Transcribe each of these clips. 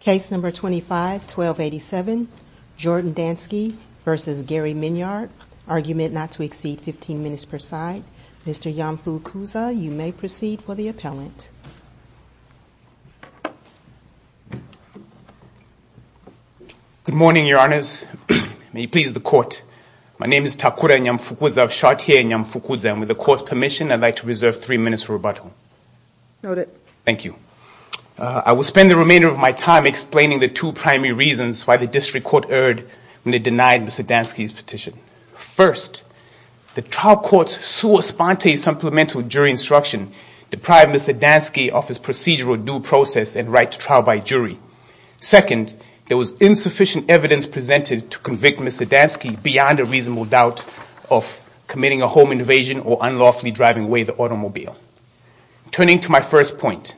Case number 251287 Jordan Danski versus Gary Miniard argument not to exceed 15 minutes per side. Mr. Nyamfukuza, you may proceed for the appellant. Good morning your honors. May you please the court. My name is Takura Nyamfukuza. I've shot here Nyamfukuza and with the court's permission I'd like to reserve three minutes for rebuttal. Noted. Thank you. I will spend the remainder of my time explaining the two primary reasons why the district court erred when it denied Mr. Danski's petition. First, the trial court's sua sponte supplemental jury instruction deprived Mr. Danski of his procedural due process and right to trial by jury. Second, there was insufficient evidence presented to convict Mr. Danski beyond a reasonable doubt of committing a home invasion or unlawfully driving away the automobile. Turning to my first point,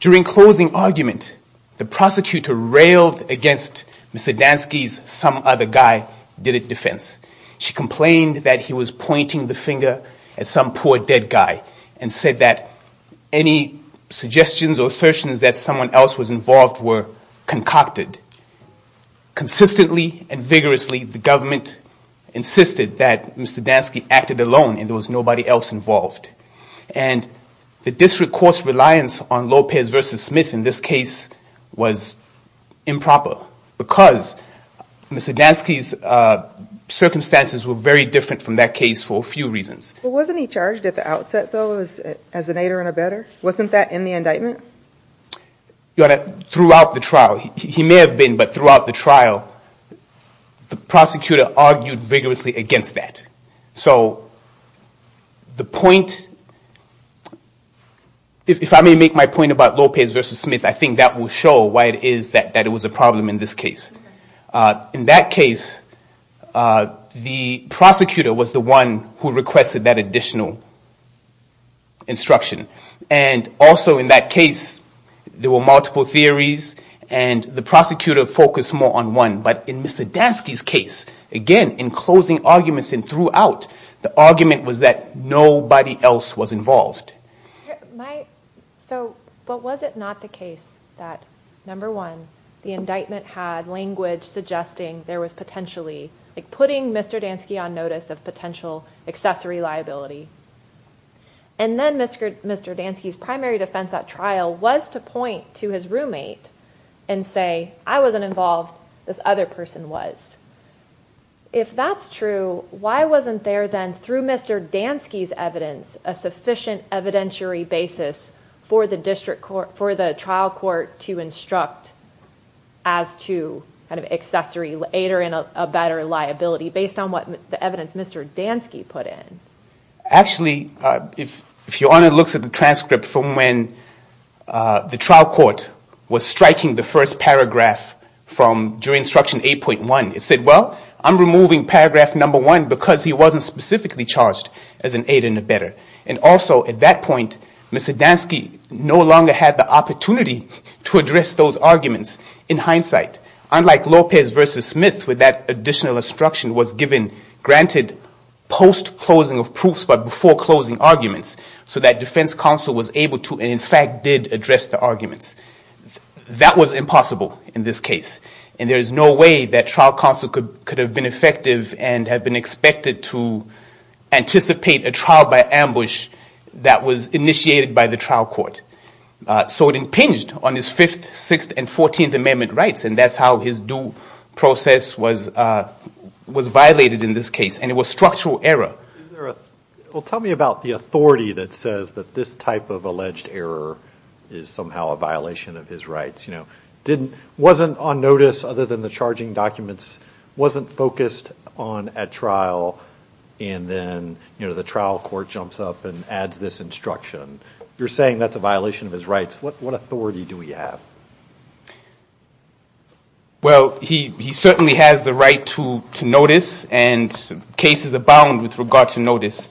during closing argument the prosecutor railed against Mr. Danski's some other guy did it defense. She complained that he was pointing the finger at some poor dead guy and said that any suggestions or assertions that someone else was involved were concocted. Consistently and vigorously the government insisted that Mr. Danski acted alone and there was nobody else involved. The district court's reliance on Lopez versus Smith in this case was improper because Mr. Danski's circumstances were very different from that case for a few reasons. Wasn't he charged at the outset though as an aider and a better? Wasn't that in the indictment? Throughout the trial, he may have been, but throughout the trial, the prosecutor argued vigorously against that. So the point, if I may make my point about Lopez versus Smith, I think that will show why it is that it was a problem in this case. In that case, the prosecutor was the one who requested that additional instruction. And also in that case, there were multiple theories and the prosecutor focused more on one. But in Mr. Danski's case, again, in closing arguments and throughout, the argument was that nobody else was involved. So, but was it not the case that number one, the indictment had language suggesting there was potentially, like putting Mr. Danski on notice of potential accessory liability. And then Mr. Danski's primary defense at trial was to point to his roommate and say, I was not involved, this other person was. If that's true, why wasn't there then through Mr. Danski's evidence a sufficient evidentiary basis for the district court, for the trial court to instruct as to kind of accessory aider and a better liability based on what the evidence Mr. Danski put in? Actually if your honor looks at the transcript from when the trial court was striking the first paragraph from jury instruction 8.1, it said, well, I'm removing paragraph number one because he wasn't specifically charged as an aider and a better. And also at that point, Mr. Danski no longer had the opportunity to address those arguments in hindsight. Unlike Lopez versus Smith with that additional instruction was given granted post-closing of proofs but before closing arguments so that defense counsel was able to and in fact did address the arguments. That was impossible in this case. And there's no way that trial counsel could have been effective and have been expected to anticipate a trial by ambush that was initiated by the trial court. So it impinged on his fifth, sixth, and fourteenth amendment rights and that's how his due process was violated in this case and it was structural error. Is there a, well tell me about the authority that says that this type of alleged error is somehow a violation of his rights. You know, wasn't on notice other than the charging documents, wasn't focused on at trial and then you know the trial court jumps up and adds this instruction. You're saying that's a violation of his rights. What authority do we have? Well, he certainly has the right to notice and cases abound with regard to notice.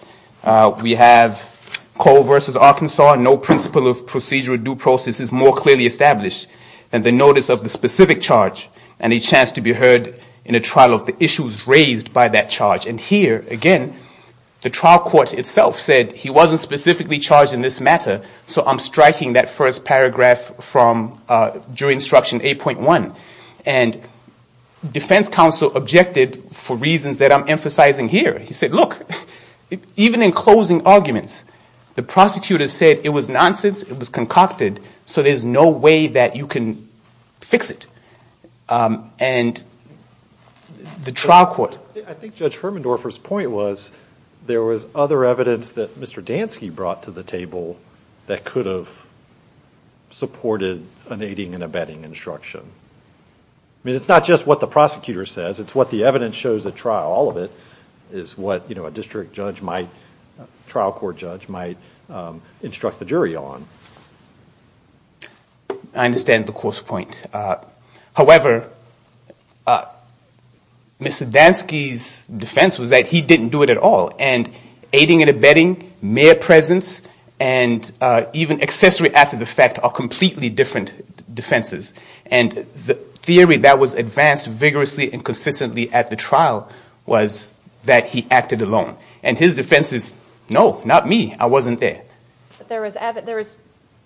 We have Cole versus Arkansas, no principle of procedure or due process is more clearly established than the notice of the specific charge and a chance to be heard in a trial of the issues raised by that charge. And here again, the trial court itself said he wasn't specifically charged in this matter, so I'm striking that first paragraph from jury instruction 8.1. And defense counsel objected for reasons that I'm emphasizing here. He said, look, even in closing arguments, the prosecutor said it was nonsense, it was concocted, so there's no way that you can fix it. And the trial court. I think Judge Hermendorfer's point was there was other evidence that Mr. Dansky brought to the table that could have supported an aiding and abetting instruction. I mean, it's not just what the prosecutor says, it's what the evidence shows at trial. All of it is what a district judge might, trial court judge might instruct the jury on. I understand the close point. However, Mr. Dansky's defense was that he didn't do it at all. And aiding and abetting, mere presence, and even accessory after the fact are completely different defenses. And the theory that was advanced vigorously and consistently at the trial was that he acted alone. And his defense is, no, not me, I wasn't there. There was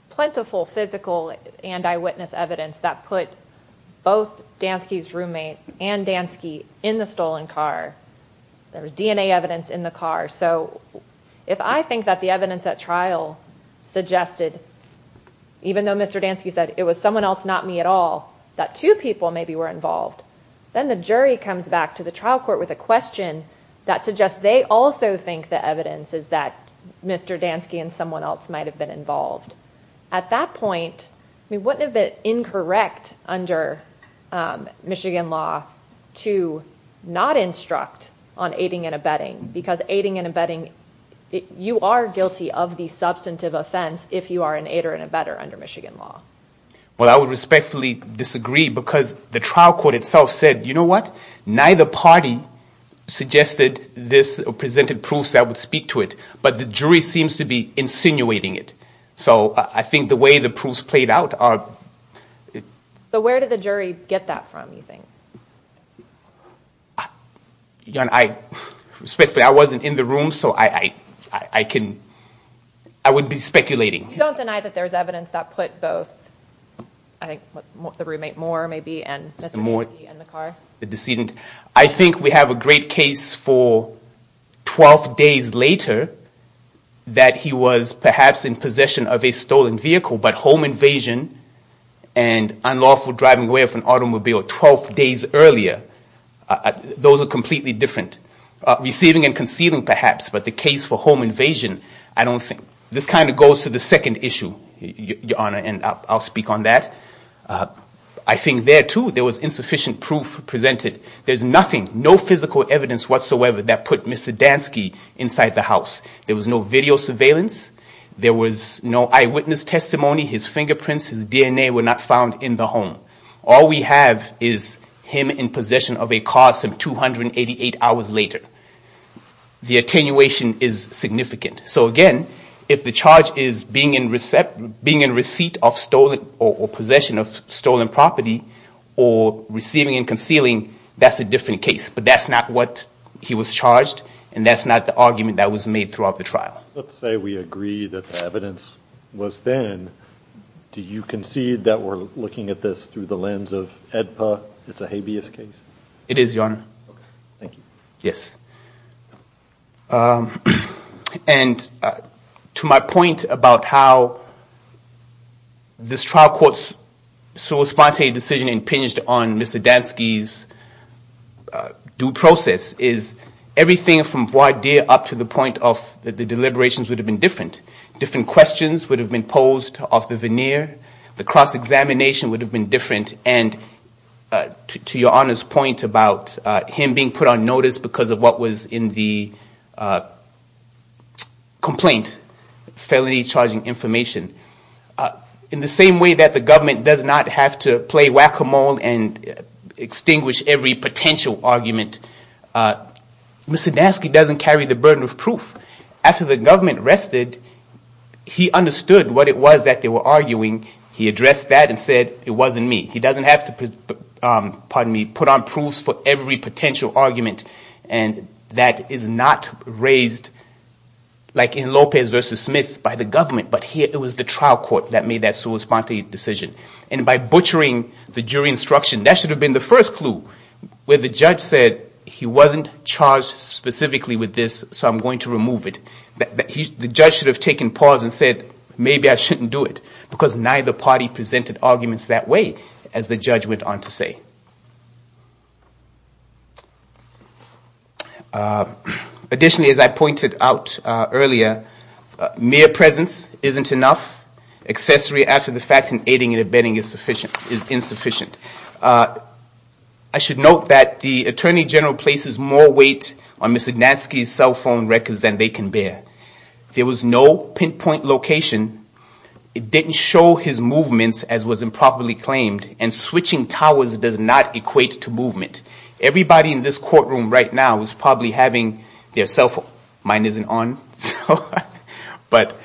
plentiful physical and eyewitness evidence that put both Dansky's roommate and Dansky in the stolen car. There was DNA evidence in the car. So if I think that the evidence at trial suggested, even though Mr. Dansky said it was someone else, not me at all, that two people maybe were involved, then the jury comes back to the trial court with a question that suggests they also think the evidence is that Mr. Dansky and someone else might have been involved. At that point, we wouldn't have been incorrect under Michigan law to not instruct on aiding and abetting, because aiding and abetting, you are guilty of the substantive offense if you are an aider and abetter under Michigan law. Well, I would respectfully disagree, because the trial court itself said, you know what, neither party suggested this or presented proofs that would speak to it. But the jury seems to be insinuating it. So I think the way the proofs played out are... So where did the jury get that from, you think? Respectfully, I wasn't in the room, so I wouldn't be speculating. You don't deny that there's evidence that put both, I think the roommate Moore, maybe, and Mr. Dansky in the car? The decedent. I think we have a great case for 12 days later that he was perhaps in possession of a stolen vehicle, but home invasion and unlawful driving away of an automobile 12 days earlier, those are completely different. Receiving and concealing, perhaps, but the case for home invasion, I don't think. This kind of goes to the second issue, Your Honor, and I'll speak on that. I think there too, there was insufficient proof presented. There's nothing, no physical evidence whatsoever that put Mr. Dansky inside the house. There was no video surveillance. There was no eyewitness testimony. His fingerprints, his DNA were not found in the home. All we have is him in possession of a car some 288 hours later. The attenuation is significant. So again, if the charge is being in receipt of stolen or possession of stolen property or receiving and concealing, that's a different case, but that's not what he was charged and that's not the argument that was made throughout the trial. Let's say we agree that the evidence was then. Do you concede that we're looking at this through the lens of AEDPA? It's a habeas case? It is, Your Honor. Okay, thank you. Yes. And to my point about how this trial court's surreptitious decision impinged on Mr. Dansky's due process is everything from voir dire up to the point of the deliberations would have been different. Different questions would have been posed off the veneer. The cross-examination would have been different, and to Your Honor's point about him being put on notice because of what was in the complaint, felony charging information. In the same way that the government does not have to play whack-a-mole and extinguish every potential argument, Mr. Dansky doesn't carry the burden of proof. After the government rested, he understood what it was that they were arguing. He addressed that and said, it wasn't me. He doesn't have to put on proofs for every potential argument. And that is not raised like in Lopez v. Smith by the government, but here it was the trial court that made that surreptitious decision. And by butchering the jury instruction, that should have been the first clue where the judge said he wasn't charged specifically with this, so I'm going to remove it. The judge should have taken pause and said, maybe I shouldn't do it because neither party presented arguments that way, as the judge went on to say. Additionally, as I pointed out earlier, mere presence isn't enough. Accessory after the fact in aiding and abetting is insufficient. I should note that the Attorney General places more weight on Mr. Dansky's cell phone records than they can bear. There was no pinpoint location. It didn't show his movements as was improperly claimed. And switching towers does not equate to movement. Everybody in this courtroom right now is probably having their cell phone. Mine isn't on, but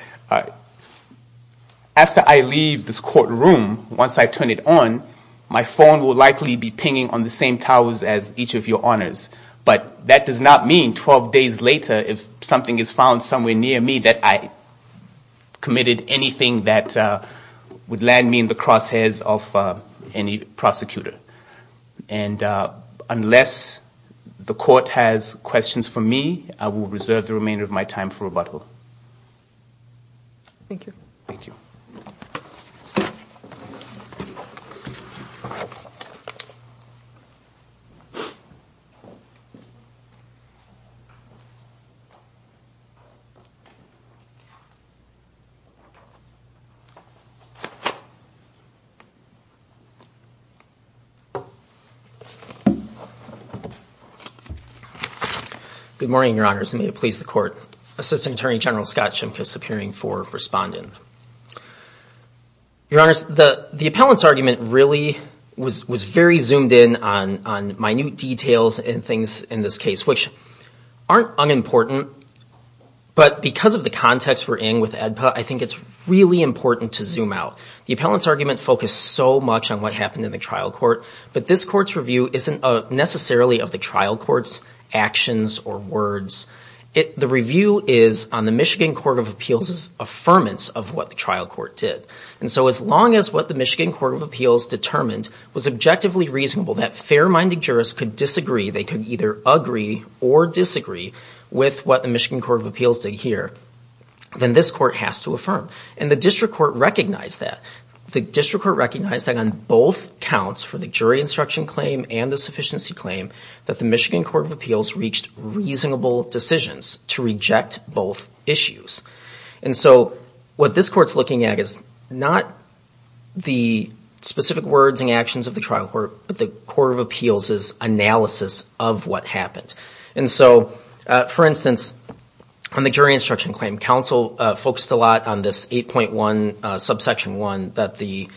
after I leave this courtroom, once I turn it on, my phone will likely be pinging on the same towers as each of your honors. But that does not mean 12 days later, if something is found somewhere near me, that I committed anything that would land me in the crosshairs of any prosecutor. And unless the court has questions for me, I will reserve the remainder of my time for rebuttal. Thank you. Thank you. Good morning, your honors, and may it please the court. Assistant Attorney General Scott Shimkus appearing for respondent. Your honors, the appellant's argument really was very zoomed in on minute details and things in this case, which aren't unimportant, but because of the context we're in with AEDPA, I think it's really important to zoom out. The appellant's argument focused so much on what happened in the trial court, but this court's review isn't necessarily of the trial court's actions or words. The review is on the Michigan Court of Appeals' affirmance of what the trial court did. And so as long as what the Michigan Court of Appeals determined was objectively reasonable, that fair-minded jurists could disagree, they could either agree or disagree, with what the Michigan Court of Appeals did here, then this court has to affirm. And the district court recognized that. The district court recognized that on both counts, for the jury instruction claim and the sufficiency claim, that the Michigan Court of Appeals reached reasonable decisions to reject both issues. And so what this court's looking at is not the specific words and actions of the trial court, but the Court of Appeals' analysis of what happened. And so, for instance, on the jury instruction claim, counsel focused a lot on this 8.1 subsection 1 that the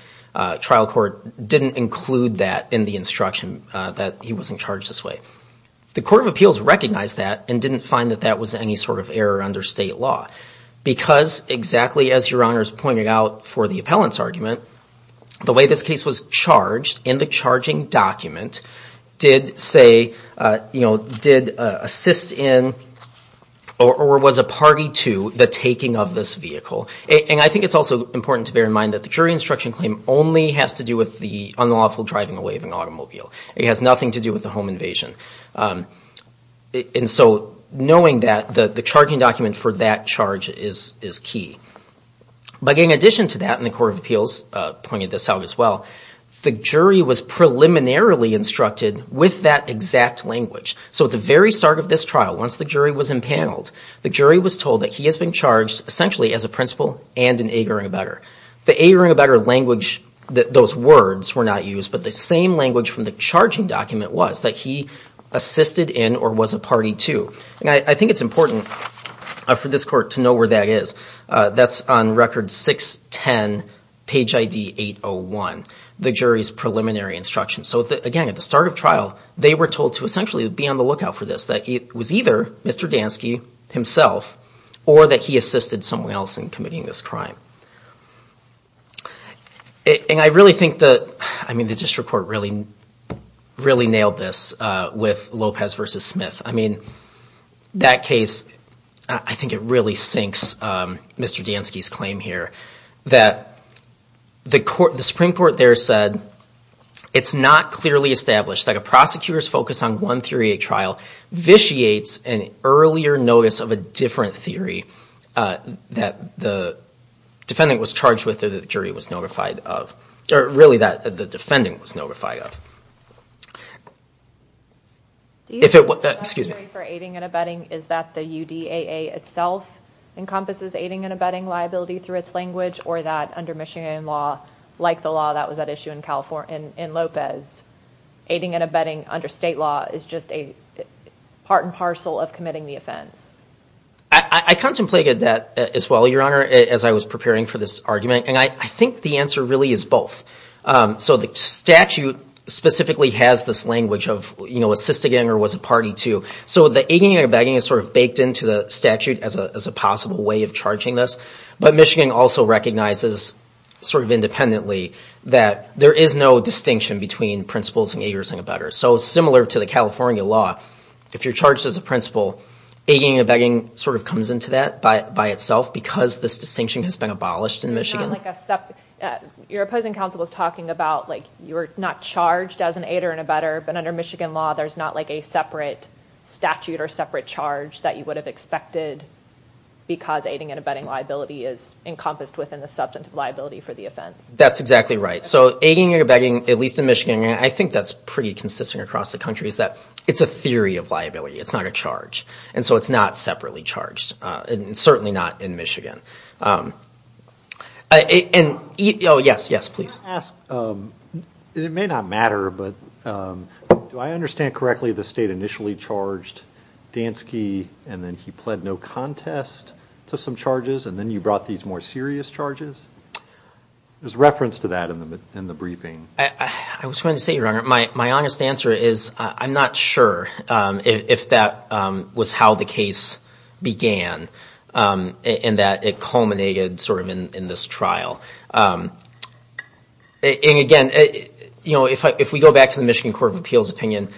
trial court didn't include that in the instruction that he wasn't charged this way. The Court of Appeals recognized that and didn't find that that was any sort of error under state law because exactly as Your Honor's pointed out for the appellant's argument, the way this case was charged in the charging document did assist in or was a party to the taking of this vehicle. And I think it's also important to bear in mind that the jury instruction claim only has to do with the unlawful driving away of an automobile. It has nothing to do with the home invasion. And so knowing that the charging document for that charge is key. But in addition to that, and the Court of Appeals pointed this out as well, the jury was preliminarily instructed with that exact language. So at the very start of this trial, once the jury was impaneled, the jury was told that he has been charged essentially as a principal and an agoring abettor. The agoring abettor language, those words were not used, but the same language from the charging document was that he assisted in or was a party to. And I think it's important for this court to know where that is. That's on record 610 page ID 801, the jury's preliminary instruction. So again, at the start of trial, they were told to essentially be on the lookout for this, that it was either Mr. Dansky himself or that he assisted someone else in committing this crime. And I really think that, I mean, the district court really nailed this with Lopez v. Smith. I mean, that case, I think it really sinks Mr. Dansky's claim here, that the Supreme Court there said, it's not clearly established that a prosecutor's focus on one theory at trial vitiates an earlier notice of a different theory that the defendant was charged with or the jury was notified of, or really that the defendant was notified of. If it was, excuse me. For aiding and abetting, is that the UDAA itself encompasses aiding and abetting liability through its language, or that under Michigan law, like the law that was at issue in California, in Lopez, aiding and abetting under state law is just a part and parcel of committing the offense? I contemplated that as well, Your Honor, as I was preparing for this argument. And I think the answer really is both. So the statute specifically has this language of, you know, assisting or was a party to. So the aiding and abetting is sort of baked into the statute as a possible way of charging this. But Michigan also recognizes sort of independently that there is no distinction between principles and aiders and abettors. So similar to the California law, if you're charged as a principal, aiding and abetting sort of comes into that by itself because this distinction has been abolished in Michigan. Your opposing counsel was talking about, like, you're not charged as an aider and abetter, but under Michigan law, there's not like a separate statute or separate charge that you would have expected because aiding and abetting liability is encompassed within the substantive liability for the offense. That's exactly right. So aiding and abetting, at least in Michigan, I think that's pretty consistent across the country is that it's a theory of liability. It's not a charge. And so it's not separately charged and certainly not in Michigan. Oh, yes, yes, please. It may not matter, but do I understand correctly the state initially charged Dansky and then he pled no contest to some charges and then you brought these more serious charges? There's reference to that in the briefing. I was going to say, Your Honor, my honest answer is I'm not sure if that was how the case began in that it culminated sort of in this trial. And again, you know, if we go back to the Michigan Court of Appeals opinion,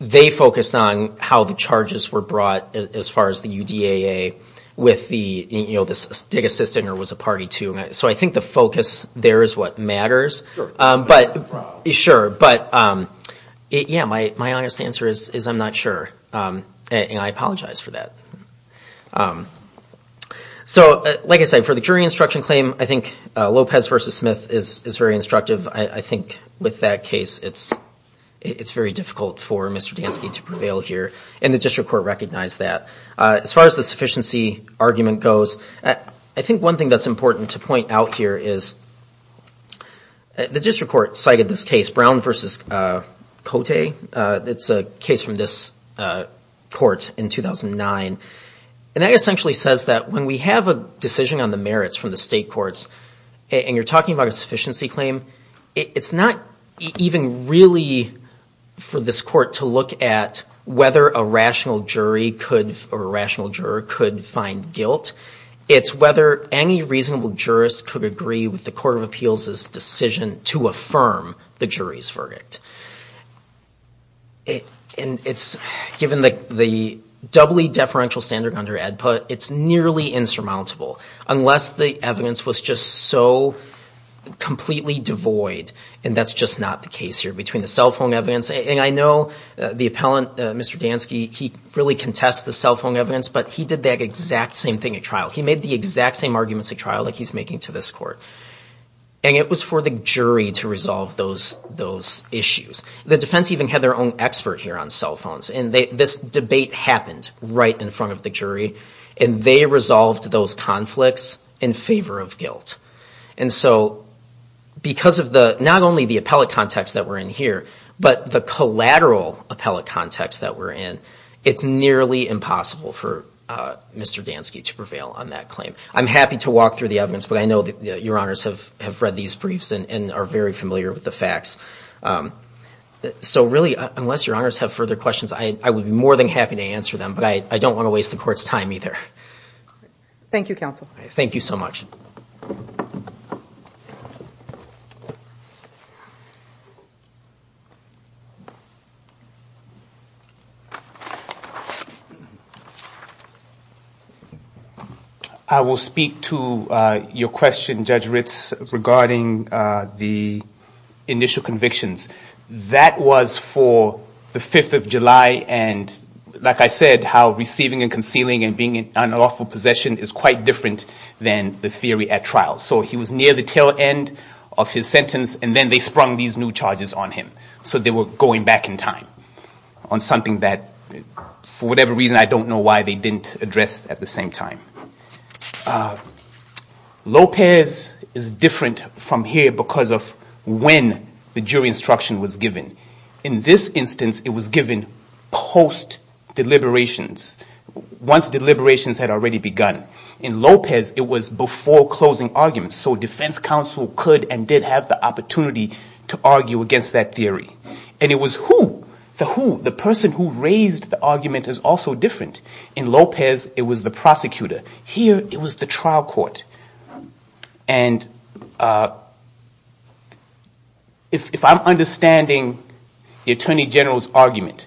they focused on how the charges were brought as far as the UDAA with the, you know, this Dick Assistinger was a party to. So I think the focus there is what matters. Sure. But, yeah, my honest answer is I'm not sure. And I apologize for that. So, like I said, for the jury instruction claim, I think Lopez v. Smith is very instructive. I think with that case, it's very difficult for Mr. Dansky to prevail here. And the district court recognized that. As far as the sufficiency argument goes, I think one thing that's important to point out here is the district court cited this case, Brown v. Cote. It's a case from this court in 2009. And that essentially says that when we have a decision on the merits from the state courts and you're talking about a sufficiency claim, it's not even really for this court to look at whether a rational jury could, or a rational juror could find guilt. It's whether any reasonable jurist could agree with the Court of Appeals' decision to affirm the jury's verdict. And it's given the doubly deferential standard under AEDPA, it's nearly insurmountable, unless the evidence was just so completely devoid. And that's just not the case here. Between the cell phone evidence, and I know the appellant, Mr. Dansky, he really contests the cell phone evidence, but he did that exact same thing at trial. He made the exact same arguments at trial that he's making to this court. And it was for the jury to resolve those issues. The defense even had their own expert here on cell phones. And this debate happened right in front of the jury, and they resolved those conflicts in favor of guilt. And so because of not only the appellate context that we're in here, but the collateral appellate context that we're in, it's nearly impossible for Mr. Dansky to prevail on that claim. I'm happy to walk through the evidence, but I know that Your Honors have read these briefs and are very familiar with the facts. So really, unless Your Honors have further questions, I would be more than happy to answer them, but I don't want to waste the court's time either. Thank you, counsel. Thank you so much. I will speak to your question, Judge Ritz, regarding the initial convictions. That was for the 5th of July, and like I said, how receiving and concealing and being in unlawful possession is quite different than the theory at trial. So he was near the tail end of his sentence, and then they sprung these new charges on him. So they were going back in time on something that, for whatever reason, I don't know why they didn't address at the same time. Lopez is different from here because of when the jury instruction was given. In this instance, it was given post-deliberations, once deliberations had already begun. In Lopez, it was before closing arguments, so defense counsel could and did have the opportunity to argue against that theory. And it was who, the who, the person who raised the argument is also different. In Lopez, it was the prosecutor. Here it was the trial court. And if I'm understanding the Attorney General's argument,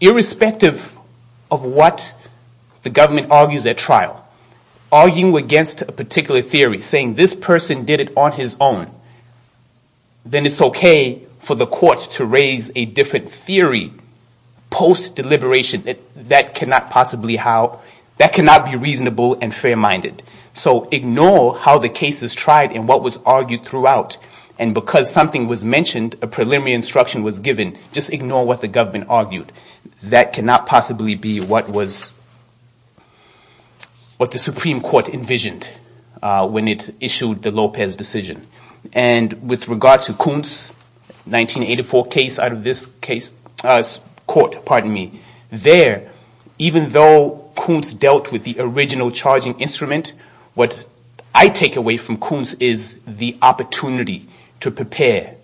irrespective of what the government argues at trial, arguing against a particular theory, saying this person did it on his own, then it's okay for the courts to raise a different theory post-deliberation. That cannot be reasonable and fair-minded. So ignore how the case is tried and what was argued throughout. And because something was mentioned, a preliminary instruction was given, just ignore what the government argued. That cannot possibly be what the Supreme Court envisioned when it issued the Lopez decision. And with regard to Kuntz, 1984 case out of this court, there, even though Kuntz dealt with the original charging instrument, what I take away from Kuntz is the opportunity to prepare,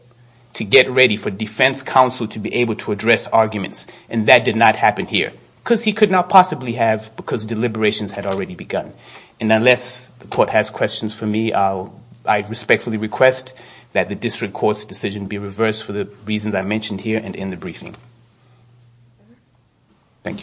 to get ready for defense counsel to be able to address arguments, and that did not happen here. Because he could not possibly have, because deliberations had already begun. And unless the court has questions for me, I respectfully request that the district court's decision be reversed for the reasons I mentioned here and in the briefing. Thank you.